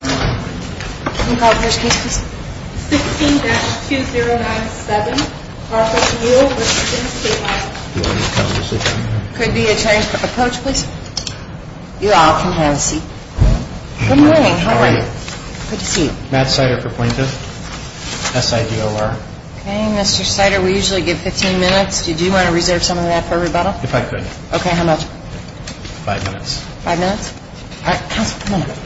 16-2097 R.F. Muell v. Stable Could be attorneys for the coach please? You all can have a seat. Good morning. How are you? Good to see you. Matt Sider for plaintiff. SIDOR. Okay, Mr. Sider, we usually give 15 minutes. Did you want to reserve some of that for rebuttal? If I could. Okay, how much? Five minutes. Five minutes? All right, counsel, come on up.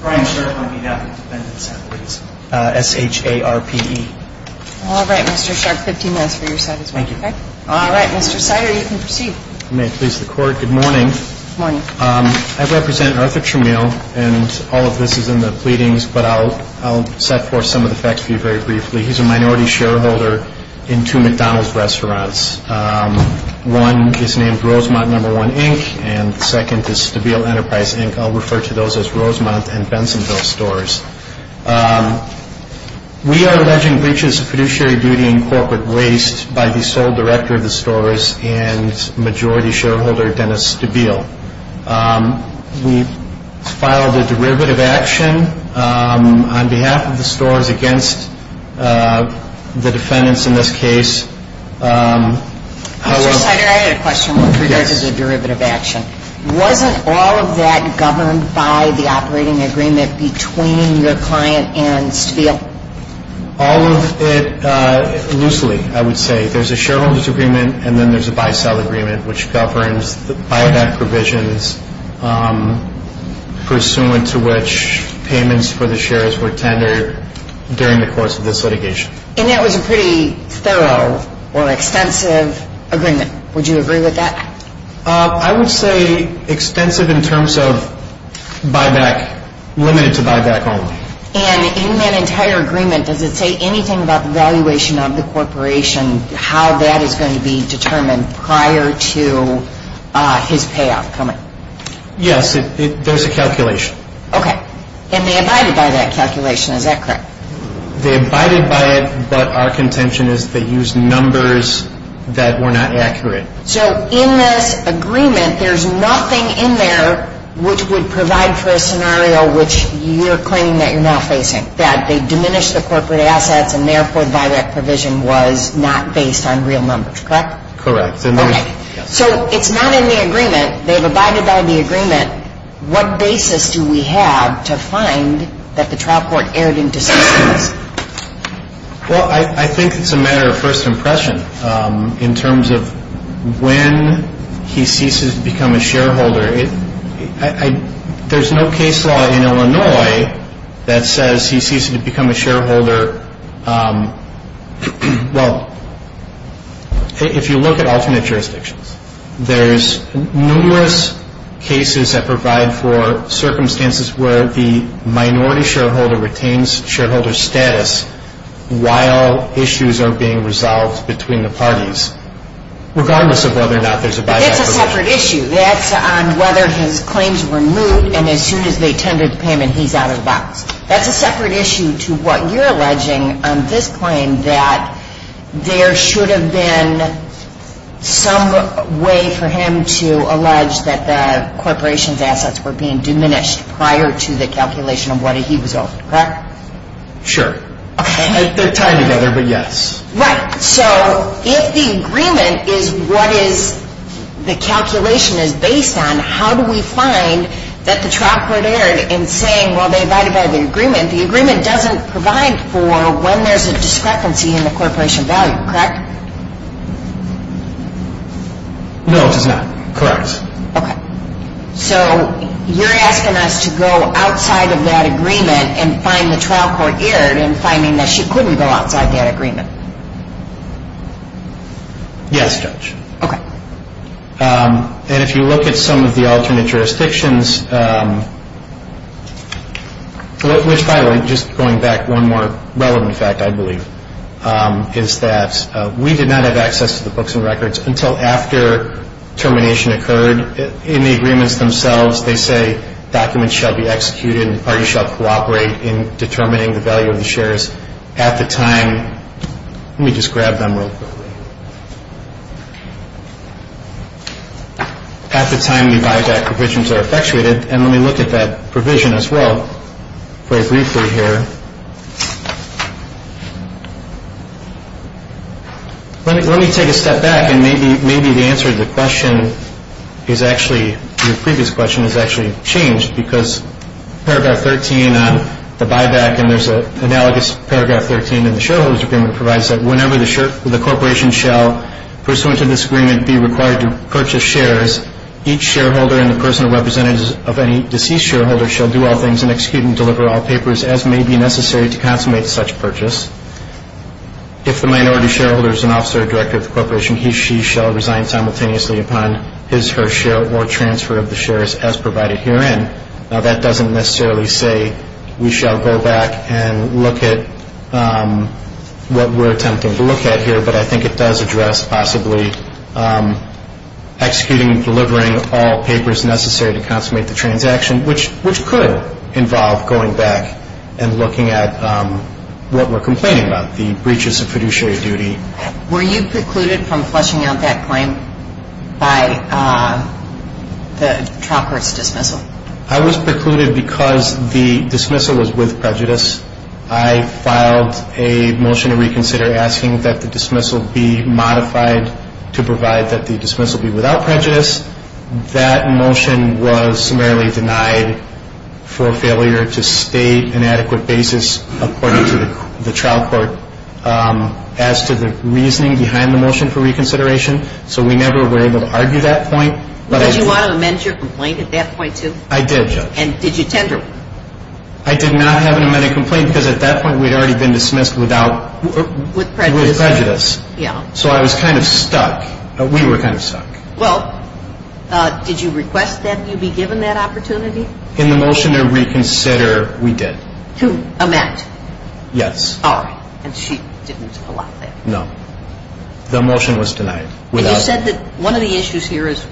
Brian Sharpe on behalf of the Defendant's Advocacy. S-H-A-R-P-E. All right, Mr. Sharpe, 15 minutes for your side as well. Thank you. All right, Mr. Sider, you can proceed. If you may please the court. Good morning. Good morning. I represent Arthur Chmiel, and all of this is in the pleadings, but I'll set forth some of the facts for you very briefly. He's a minority shareholder in two McDonald's restaurants. One is named Rosemount No. 1, Inc., and the second is Stabile Enterprise, Inc. I'll refer to those as Rosemount and Bensonville stores. We are alleging breaches of fiduciary duty and corporate waste by the sole director of the stores and majority shareholder Dennis Stabile. We filed a derivative action on behalf of the stores against the defendants in this case. Mr. Sider, I had a question with regards to the derivative action. Wasn't all of that governed by the operating agreement between your client and Stabile? All of it loosely, I would say. There's a shareholder's agreement, and then there's a buy-sell agreement, which governs the buyback provisions, pursuant to which payments for the shares were tendered during the course of this litigation. And that was a pretty thorough or extensive agreement. Would you agree with that? I would say extensive in terms of buyback, limited to buyback only. And in that entire agreement, does it say anything about the valuation of the corporation, how that is going to be determined prior to his payoff coming? Yes, there's a calculation. Okay. And they abided by that calculation, is that correct? They abided by it, but our contention is they used numbers that were not accurate. So in this agreement, there's nothing in there which would provide for a scenario which you're claiming that you're now facing, that they diminished the corporate assets and therefore the buyback provision was not based on real numbers, correct? Correct. Okay. So it's not in the agreement. They've abided by the agreement. What basis do we have to find that the trial court erred in decisions? Well, I think it's a matter of first impression in terms of when he ceases to become a shareholder. There's no case law in Illinois that says he ceases to become a shareholder. Well, if you look at alternate jurisdictions, there's numerous cases that provide for circumstances where the minority shareholder retains shareholder status while issues are being resolved between the parties, regardless of whether or not there's a buyback provision. But that's a separate issue. That's on whether his claims were moved, and as soon as they tendered the payment, he's out of the box. That's a separate issue to what you're alleging on this claim, that there should have been some way for him to allege that the corporation's assets were being diminished prior to the calculation of what he was owed, correct? Sure. Okay. They're tied together, but yes. Right. So if the agreement is what the calculation is based on, how do we find that the trial court erred in saying, well, they abided by the agreement. The agreement doesn't provide for when there's a discrepancy in the corporation value, correct? No, it does not. Correct. Okay. So you're asking us to go outside of that agreement and find the trial court erred in finding that she couldn't go outside that agreement? Yes, Judge. Okay. And if you look at some of the alternate jurisdictions, which, by the way, just going back, one more relevant fact, I believe, is that we did not have access to the books and records until after termination occurred. In the agreements themselves, they say documents shall be executed and the party shall cooperate in determining the value of the shares at the time. Let me just grab them real quick. At the time the buyback provisions are effectuated, and let me look at that provision as well very briefly here. Let me take a step back and maybe the answer to the question is actually, your previous question is actually changed because Paragraph 13 on the buyback, and there's an analogous Paragraph 13 in the shareholder's agreement, provides that whenever the corporation shall, pursuant to this agreement, be required to purchase shares, each shareholder and the person or representative of any deceased shareholder shall do all things and execute and deliver all papers as may be necessary to consummate such purchase. If the minority shareholder is an officer or director of the corporation, he or she shall resign simultaneously upon his or her share or transfer of the shares as provided herein. Now, that doesn't necessarily say we shall go back and look at what we're attempting to look at here, but I think it does address possibly executing and delivering all papers necessary to consummate the transaction, which could involve going back and looking at what we're complaining about, the breaches of fiduciary duty. Were you precluded from flushing out that claim by the trial court's dismissal? I was precluded because the dismissal was with prejudice. I filed a motion to reconsider asking that the dismissal be modified to provide that the dismissal be without prejudice. That motion was summarily denied for failure to state an adequate basis, according to the trial court, as to the reasoning behind the motion for reconsideration, so we never were able to argue that point. Did you want to amend your complaint at that point, too? I did. And did you tender it? I did not have an amended complaint because at that point we'd already been dismissed without prejudice. So I was kind of stuck. We were kind of stuck. Well, did you request that you be given that opportunity? In the motion to reconsider, we did. To amend? Yes. All right. And she didn't allow that? No. The motion was denied. And you said that one of the issues here is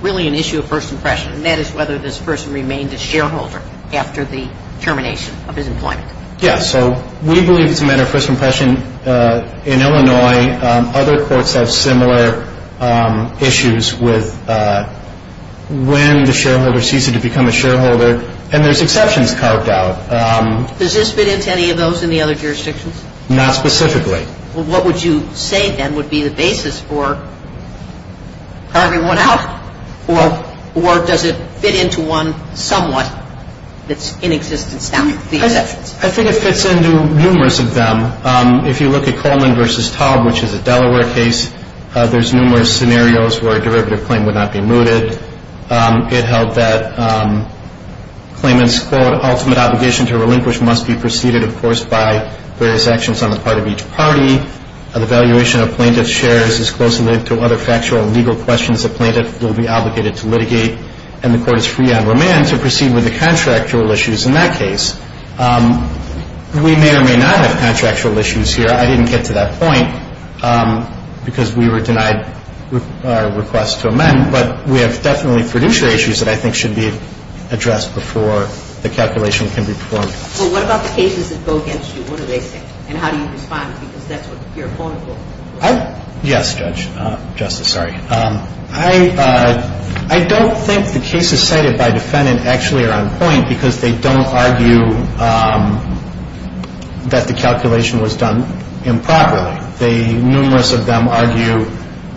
really an issue of first impression, and that is whether this person remained a shareholder after the termination of his employment. Yes. So we believe it's a matter of first impression. In Illinois, other courts have similar issues with when the shareholder ceases to become a shareholder, and there's exceptions carved out. Does this fit into any of those in the other jurisdictions? Not specifically. Well, what would you say then would be the basis for carving one out? Or does it fit into one somewhat that's in existence now? I think it fits into numerous of them. If you look at Coleman v. Taub, which is a Delaware case, there's numerous scenarios where a derivative claim would not be mooted. It held that claimants, quote, ultimate obligation to relinquish must be preceded, of course, by various actions on the part of each party. An evaluation of plaintiff's shares is closely linked to other factual and legal questions the plaintiff will be obligated to litigate, and the court is free on remand to proceed with the contractual issues in that case. We may or may not have contractual issues here. I didn't get to that point because we were denied our request to amend, but we have definitely producer issues that I think should be addressed before the calculation can be performed. Well, what about the cases that go against you? What do they say? And how do you respond because that's what your opponent will say? Yes, Judge. Justice, sorry. I don't think the cases cited by defendant actually are on point because they don't argue that the calculation was done improperly. Numerous of them argue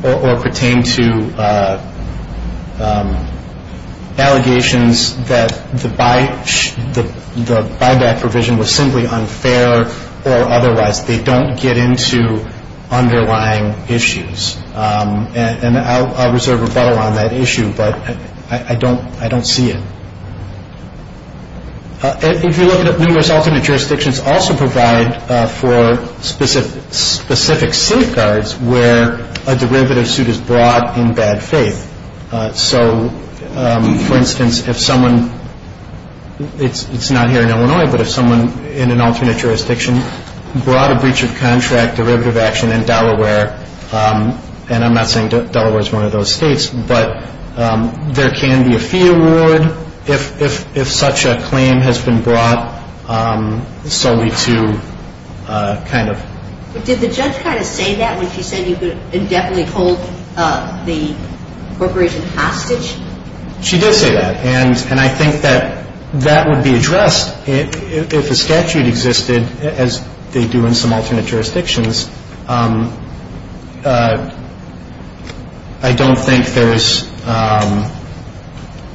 or pertain to allegations that the buyback provision was simply unfair or otherwise they don't get into underlying issues. And I'll reserve a bow on that issue, but I don't see it. If you look at it, numerous alternate jurisdictions also provide for specific safeguards where a derivative suit is brought in bad faith. So, for instance, if someone, it's not here in Illinois, but if someone in an alternate jurisdiction brought a breach of contract derivative action in Delaware, and I'm not saying Delaware is one of those states, but there can be a fee award if such a claim has been brought solely to kind of. Did the judge kind of say that when she said you could indefinitely hold the corporation hostage? She did say that, and I think that that would be addressed if a statute existed, as they do in some alternate jurisdictions. I don't think there is.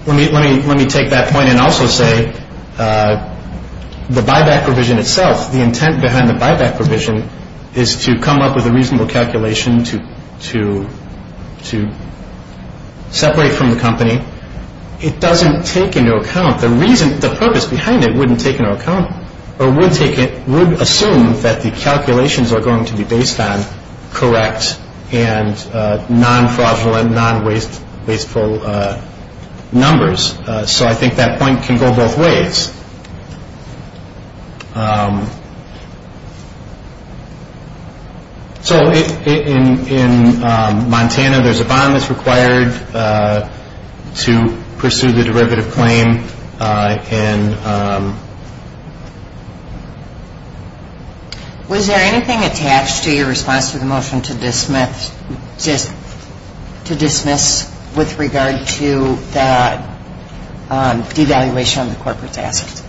Let me take that point and also say the buyback provision itself, the intent behind the buyback provision is to come up with a reasonable calculation to separate from the company. It doesn't take into account the reason, the purpose behind it wouldn't take into account or would assume that the calculations are going to be based on correct and non-fraudulent, non-wasteful numbers, so I think that point can go both ways. So, in Montana, there's a bond that's required to pursue the derivative claim, and... Was there anything attached to your response to the motion to dismiss with regard to the devaluation of the corporate assets?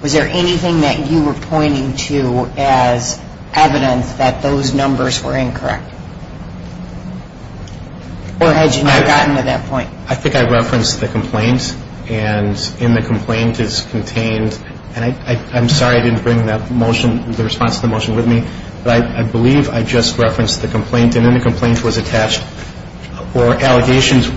Was there anything that you were pointing to as evidence that those numbers were incorrect? Or had you not gotten to that point? I think I referenced the complaint, and in the complaint is contained, and I'm sorry I didn't bring the response to the motion with me, but I believe I just referenced the complaint, and in the complaint was attached, or allegations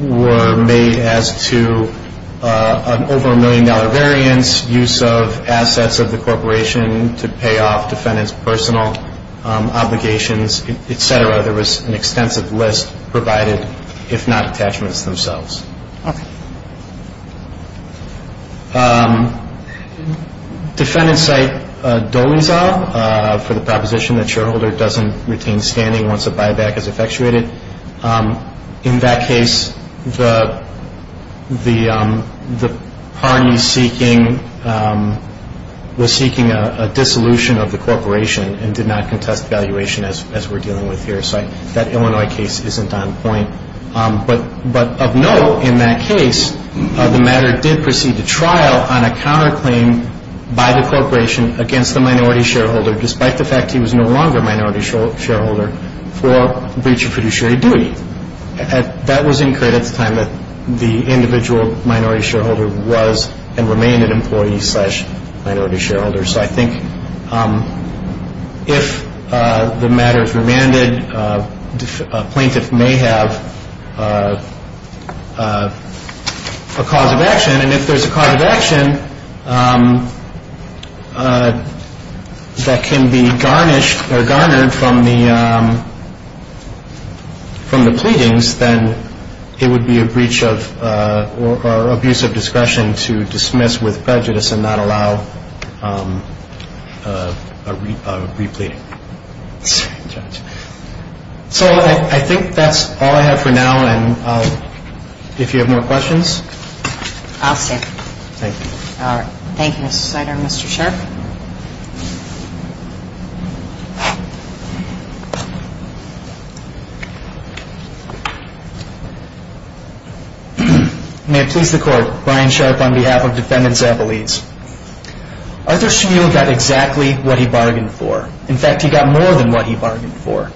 were made as to an over-a-million-dollar variance, use of assets of the corporation to pay off defendant's personal obligations, et cetera. There was an extensive list provided, if not attachments themselves. Okay. Defendants cite Dolezal for the proposition that shareholder doesn't retain standing once a buyback is effectuated. In that case, the party seeking, was seeking a dissolution of the corporation and did not contest devaluation as we're dealing with here. So that Illinois case isn't on point. But of note in that case, the matter did proceed to trial on a counterclaim by the corporation against the minority shareholder, despite the fact he was no longer a minority shareholder for breach of fiduciary duty. That was incurred at the time that the individual minority shareholder was and remained an employee slash minority shareholder. So I think if the matter is remanded, a plaintiff may have a cause of action, and if there's a cause of action that can be garnished or garnered from the pleadings, then it would be a breach of or abuse of discretion to dismiss with prejudice and not allow a repleting. So I think that's all I have for now. And if you have more questions. I'll stay. Thank you. All right. Thank you, Mr. Snyder. Mr. Shirk. May it please the court. Brian Shirk on behalf of Defendants Appellees. Arthur Schmuel got exactly what he bargained for. In fact, he got more than what he bargained for.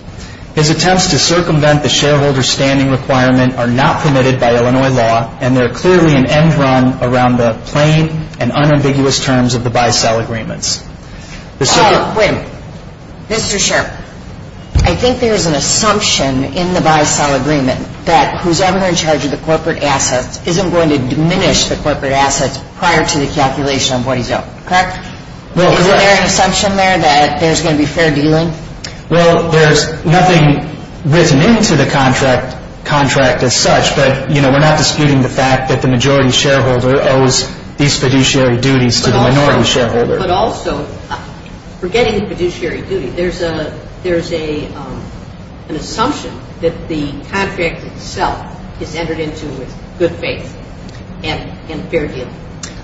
His attempts to circumvent the shareholder standing requirement are not permitted by Illinois law, and they're clearly an end run around the plain and unambiguous terms of the by-sell agreements. Wait a minute. Mr. Shirk, I think there's an assumption in the by-sell agreement that whosoever in charge of the corporate assets isn't going to diminish the corporate assets prior to the calculation of what he's owed. Correct? Is there an assumption there that there's going to be fair dealing? Well, there's nothing written into the contract as such, but we're not disputing the fact that the majority shareholder owes these fiduciary duties to the minority shareholder. But also, forgetting the fiduciary duty, there's an assumption that the contract itself is entered into with good faith and fair dealing.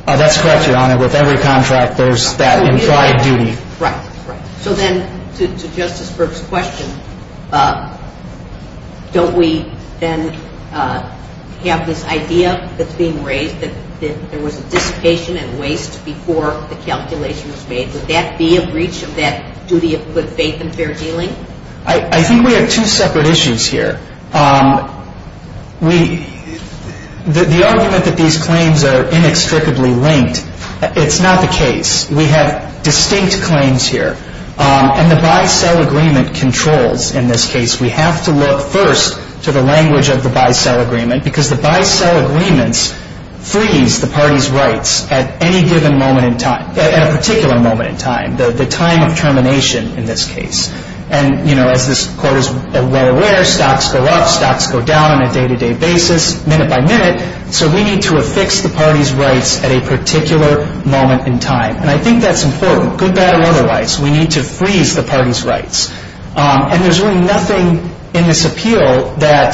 That's correct, Your Honor. With every contract there's that implied duty. Right. So then, to Justice Berg's question, don't we then have this idea that's being raised, that there was a dissipation and waste before the calculation was made? Would that be a breach of that duty of good faith and fair dealing? I think we have two separate issues here. The argument that these claims are inextricably linked, it's not the case. We have distinct claims here. And the buy-sell agreement controls in this case. We have to look first to the language of the buy-sell agreement because the buy-sell agreements freeze the party's rights at any given moment in time, at a particular moment in time, the time of termination in this case. And, you know, as this Court is well aware, stocks go up, stocks go down on a day-to-day basis, minute by minute. So we need to affix the party's rights at a particular moment in time. And I think that's important, good, bad, or otherwise. We need to freeze the party's rights. And there's really nothing in this appeal that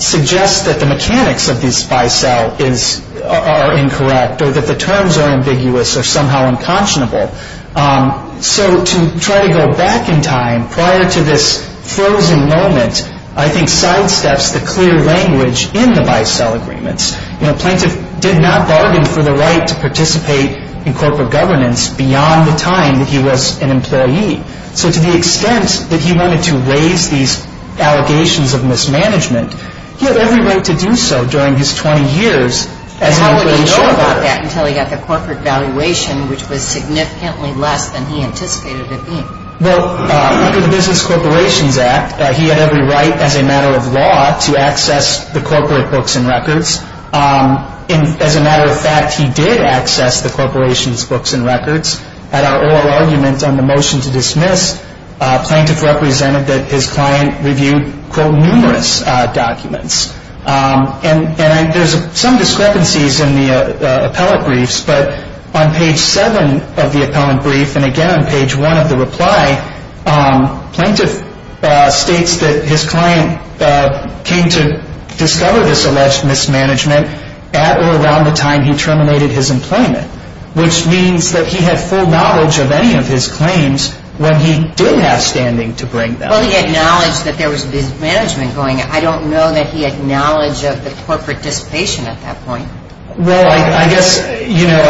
suggests that the mechanics of these buy-sell are incorrect or that the terms are ambiguous or somehow unconscionable. So to try to go back in time, prior to this frozen moment, I think sidesteps the clear language in the buy-sell agreements. You know, Plaintiff did not bargain for the right to participate in corporate governance beyond the time that he was an employee. So to the extent that he wanted to raise these allegations of mismanagement, he had every right to do so during his 20 years as an employee shareholder. And how would he know about that until he got the corporate valuation, which was significantly less than he anticipated it being? Well, under the Business Corporations Act, he had every right as a matter of law to access the corporate books and records. And as a matter of fact, he did access the corporation's books and records. At our oral argument on the motion to dismiss, Plaintiff represented that his client reviewed, quote, numerous documents. And there's some discrepancies in the appellate briefs, but on page 7 of the appellant brief and again on page 1 of the reply, Plaintiff states that his client came to discover this alleged mismanagement at or around the time he terminated his employment, which means that he had full knowledge of any of his claims when he did have standing to bring them. Well, he acknowledged that there was mismanagement going on. I don't know that he had knowledge of the corporate dissipation at that point. Well, I guess, you know,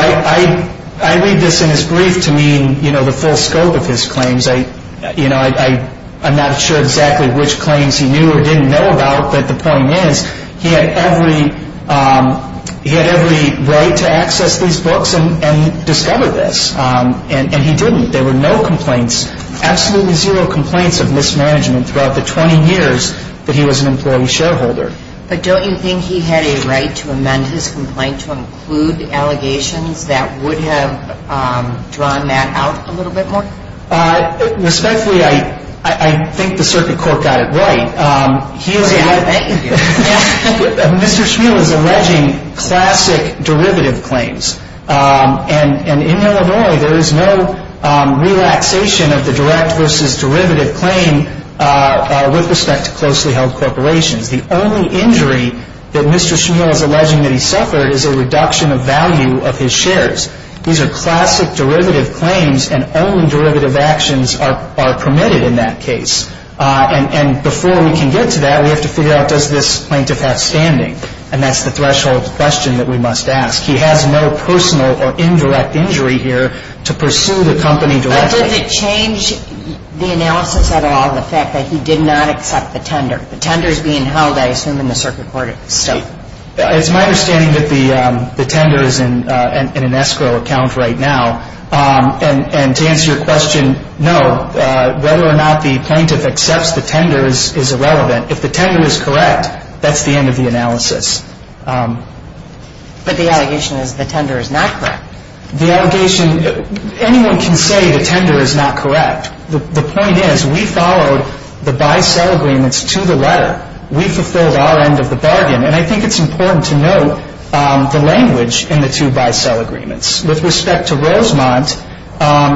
I read this in his brief to mean, you know, the full scope of his claims. You know, I'm not sure exactly which claims he knew or didn't know about, but the point is he had every right to access these books and discover this. And he didn't. There were no complaints, absolutely zero complaints of mismanagement throughout the 20 years that he was an employee shareholder. But don't you think he had a right to amend his complaint to include allegations that would have drawn that out a little bit more? Respectfully, I think the circuit court got it right. Oh, yeah, thank you. Mr. Schmeal is alleging classic derivative claims. And in Illinois, there is no relaxation of the direct versus derivative claim with respect to closely held corporations. The only injury that Mr. Schmeal is alleging that he suffered is a reduction of value of his shares. These are classic derivative claims, and only derivative actions are permitted in that case. And before we can get to that, we have to figure out, does this plaintiff have standing? And that's the threshold question that we must ask. He has no personal or indirect injury here to pursue the company directly. But does it change the analysis at all, the fact that he did not accept the tender? The tender is being held, I assume, in the circuit court. It's my understanding that the tender is in an escrow account right now. And to answer your question, no, whether or not the plaintiff accepts the tender is irrelevant. If the tender is correct, that's the end of the analysis. But the allegation is the tender is not correct. The allegation, anyone can say the tender is not correct. The point is we followed the buy-sell agreements to the letter. We fulfilled our end of the bargain. And I think it's important to note the language in the two buy-sell agreements. With respect to Rosemont,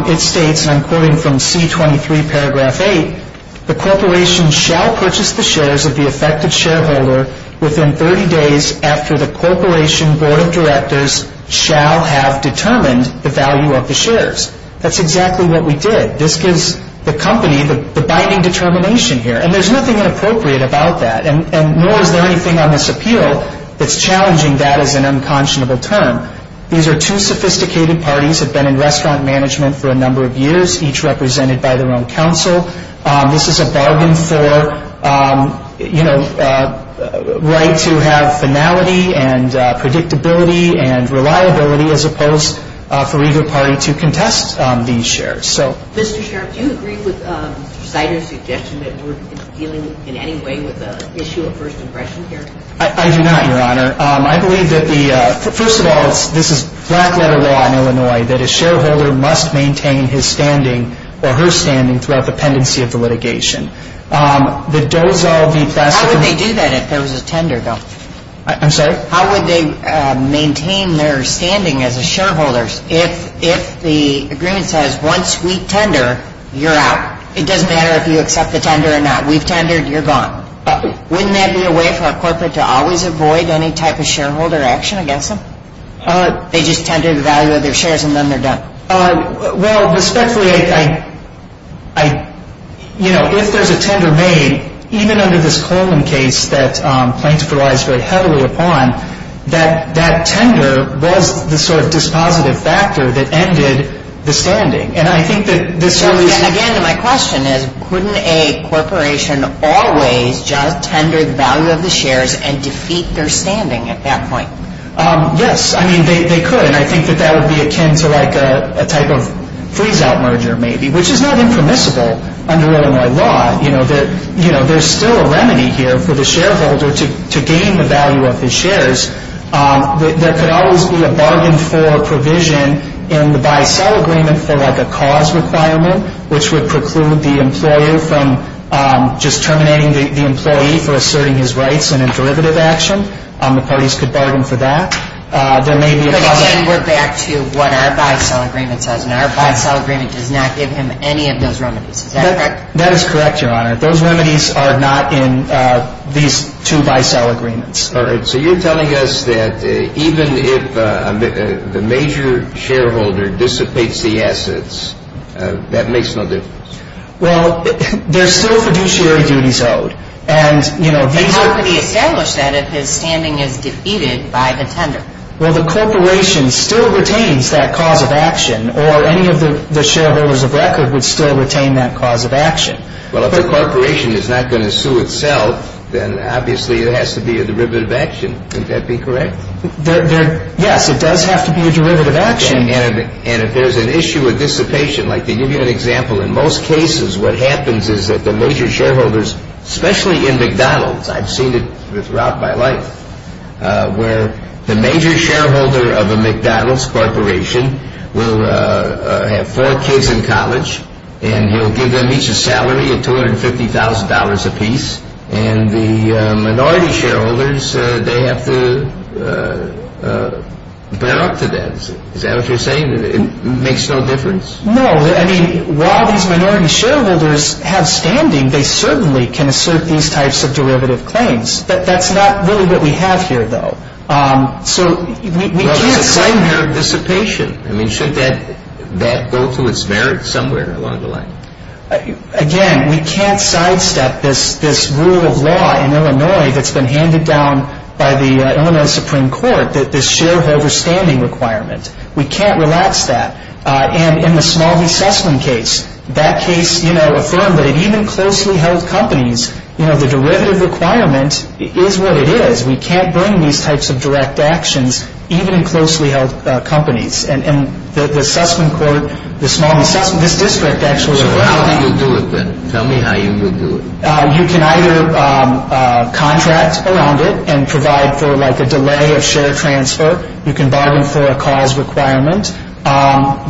it states, and I'm quoting from C23, paragraph 8, the corporation shall purchase the shares of the affected shareholder within 30 days after the corporation board of directors shall have determined the value of the shares. That's exactly what we did. This gives the company the binding determination here. And there's nothing inappropriate about that, nor is there anything on this appeal that's challenging that as an unconscionable term. These are two sophisticated parties that have been in restaurant management for a number of years, each represented by their own counsel. This is a bargain for, you know, right to have finality and predictability and reliability as opposed for either party to contest these shares. Mr. Sharp, do you agree with Cider's suggestion that we're dealing in any way with the issue of first impression here? I do not, Your Honor. I believe that the ‑‑ first of all, this is black letter law in Illinois, that a shareholder must maintain his standing or her standing throughout the pendency of the litigation. The Dozol v. Plastic. How would they do that if there was a tender, though? I'm sorry? How would they maintain their standing as a shareholder If the agreement says once we tender, you're out. It doesn't matter if you accept the tender or not. We've tendered, you're gone. Wouldn't that be a way for a corporate to always avoid any type of shareholder action against them? They just tender the value of their shares and then they're done. Well, respectfully, you know, if there's a tender made, even under this Coleman case that plaintiff relies very heavily upon, that tender was the sort of dispositive factor that ended the standing. And I think that this really is ‑‑ So again, my question is, couldn't a corporation always just tender the value of the shares and defeat their standing at that point? Yes, I mean, they could. And I think that that would be akin to like a type of freeze‑out merger, maybe, which is not impermissible under Illinois law. You know, there's still a remedy here for the shareholder to gain the value of his shares. There could always be a bargain for provision in the buy‑sell agreement for like a cause requirement, which would preclude the employer from just terminating the employee for asserting his rights in a derivative action. The parties could bargain for that. There may be a cause ‑‑ But again, we're back to what our buy‑sell agreement says, and our buy‑sell agreement does not give him any of those remedies. Is that correct? That is correct, Your Honor. Those remedies are not in these two buy‑sell agreements. All right. So you're telling us that even if the major shareholder dissipates the assets, that makes no difference? Well, there's still fiduciary duties owed. And, you know, these are ‑‑ But how could he establish that if his standing is defeated by the tender? Well, the corporation still retains that cause of action, or any of the shareholders of record would still retain that cause of action. Well, if the corporation is not going to sue itself, then obviously there has to be a derivative action. Wouldn't that be correct? Yes, it does have to be a derivative action. And if there's an issue of dissipation, like to give you an example, in most cases what happens is that the major shareholders, especially in McDonald's, I've seen it throughout my life, where the major shareholder of a McDonald's corporation will have four kids in college and he'll give them each a salary of $250,000 apiece, and the minority shareholders, they have to bear up to that. Is that what you're saying? It makes no difference? No. I mean, while these minority shareholders have standing, they certainly can assert these types of derivative claims. That's not really what we have here, though. Well, there's a claim here of dissipation. I mean, should that go to its merits somewhere along the line? Again, we can't sidestep this rule of law in Illinois that's been handed down by the Illinois Supreme Court, this shareholder standing requirement. We can't relax that. And in the Smalley-Sussman case, that case affirmed that it even closely held companies. You know, the derivative requirement is what it is. We can't bring these types of direct actions, even in closely held companies. And the Sussman court, the Smalley-Sussman, this district actually allowed it. Well, how do you do it, then? Tell me how you do it. You can either contract around it and provide for, like, a delay of share transfer. You can bargain for a cause requirement.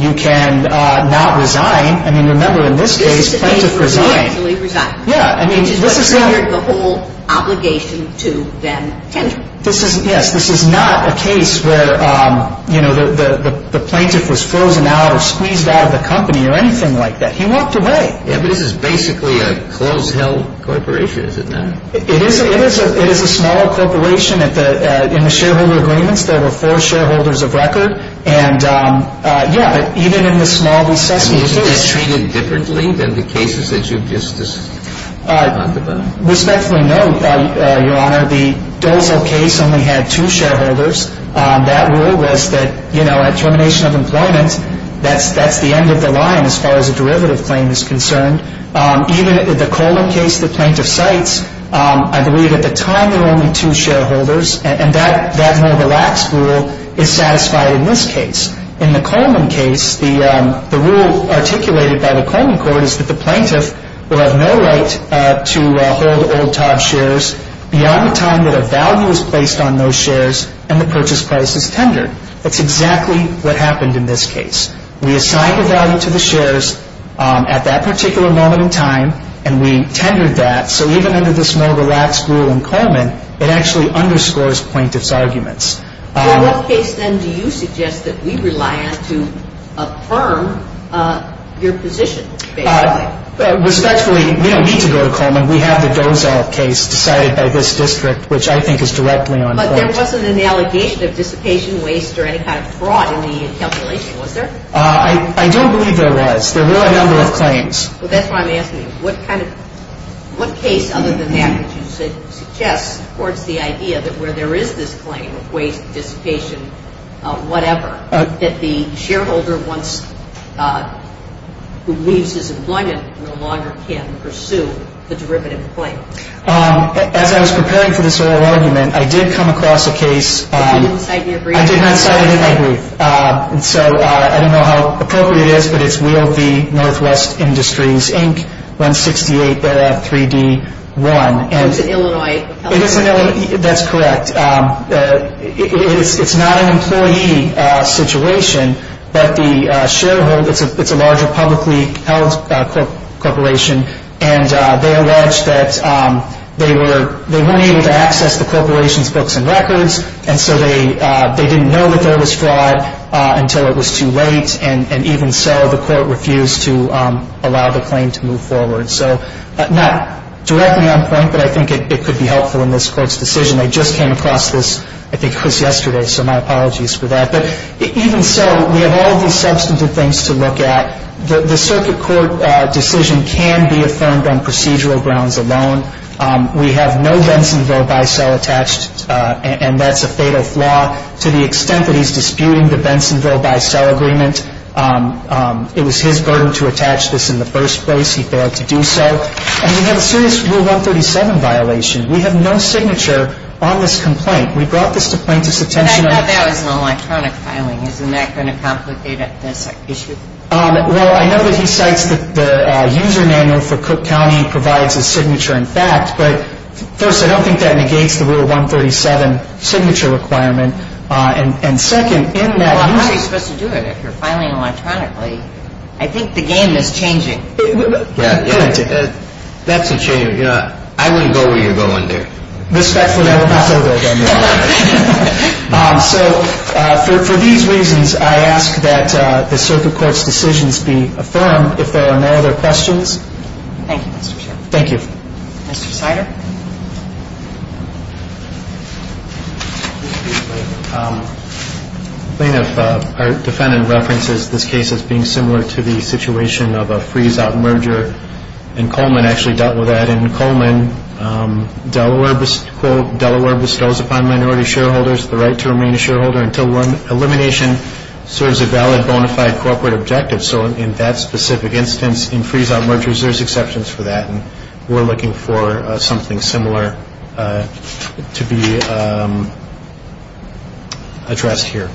You can not resign. I mean, remember, in this case, plaintiff resigned. He actually resigned. Yeah. Which is what secured the whole obligation to them. Yes, this is not a case where, you know, the plaintiff was frozen out or squeezed out of the company or anything like that. He walked away. Yeah, but this is basically a close-held corporation, is it not? It is a small corporation. In the shareholder agreements, there were four shareholders of record. And, yeah, even in the Smalley-Sussman case. Isn't this treated differently than the cases that you've just talked about? Respectfully, no, Your Honor. The Dozel case only had two shareholders. That rule was that, you know, at termination of employment, that's the end of the line as far as a derivative claim is concerned. Even in the Coleman case, the plaintiff cites, I believe at the time there were only two shareholders. And that more relaxed rule is satisfied in this case. In the Coleman case, the rule articulated by the Coleman court is that the plaintiff will have no right to hold old top shares beyond the time that a value is placed on those shares and the purchase price is tendered. That's exactly what happened in this case. We assigned a value to the shares at that particular moment in time, and we tendered that. So even under this more relaxed rule in Coleman, it actually underscores plaintiff's arguments. Well, what case then do you suggest that we rely on to affirm your position, basically? Respectfully, we don't need to go to Coleman. We have the Dozel case decided by this district, which I think is directly on point. But there wasn't an allegation of dissipation, waste, or any kind of fraud in the calculation, was there? I don't believe there was. There were a number of claims. Well, that's why I'm asking you, what kind of – what case other than that would you suggest towards the idea that where there is this claim of waste, dissipation, whatever, that the shareholder who leaves his employment no longer can pursue the derivative claim? As I was preparing for this oral argument, I did come across a case. I didn't cite it in your brief. I did not cite it in my brief. So I don't know how appropriate it is, but it's Wheel v. Northwest Industries, Inc., 168-3D-1. It's an Illinois company. That's correct. It's not an employee situation, but the shareholder, it's a larger publicly held corporation, and they allege that they weren't able to access the corporation's books and records, and so they didn't know that there was fraud until it was too late, and even so the court refused to allow the claim to move forward. So not directly on point, but I think it could be helpful in this Court's decision. I just came across this, I think it was yesterday, so my apologies for that. But even so, we have all of these substantive things to look at. The circuit court decision can be affirmed on procedural grounds alone. We have no Bensonville by cell attached, and that's a fatal flaw. To the extent that he's disputing the Bensonville by cell agreement, it was his burden to attach this in the first place. He failed to do so. And we have a serious Rule 137 violation. We have no signature on this complaint. We brought this to plaintiff's attention. But I thought that was an electronic filing. Isn't that going to complicate this issue? Well, I know that he cites that the user manual for Cook County provides a signature in fact, but first, I don't think that negates the Rule 137 signature requirement. And second, in that user – Well, how are you supposed to do it if you're filing electronically? I think the game is changing. Yeah, that's a change. I wouldn't go where you're going there. Respectfully, I will not go there. So for these reasons, I ask that the circuit court's decisions be affirmed. If there are no other questions. Thank you, Mr. Chairman. Thank you. Mr. Sider. Thank you. Plaintiff, our defendant references this case as being similar to the situation of a freeze-out merger, and Coleman actually dealt with that. In Coleman, Delaware bestows upon minority shareholders the right to remain a shareholder until elimination serves a valid bona fide corporate objective. So in that specific instance, in freeze-out mergers, there's exceptions for that. And we're looking for something similar to be addressed here.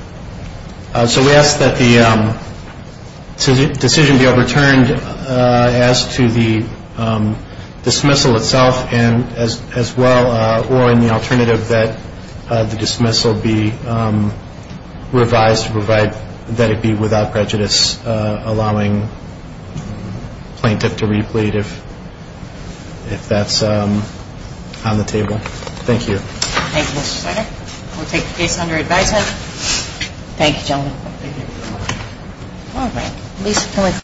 So we ask that the decision be overturned as to the dismissal itself as well, or in the alternative that the dismissal be revised to provide that it be without prejudice, allowing plaintiff to replete if that's on the table. Thank you. Thank you, Mr. Sider. We'll take the case under advisement. Thank you, gentlemen. Thank you. All right.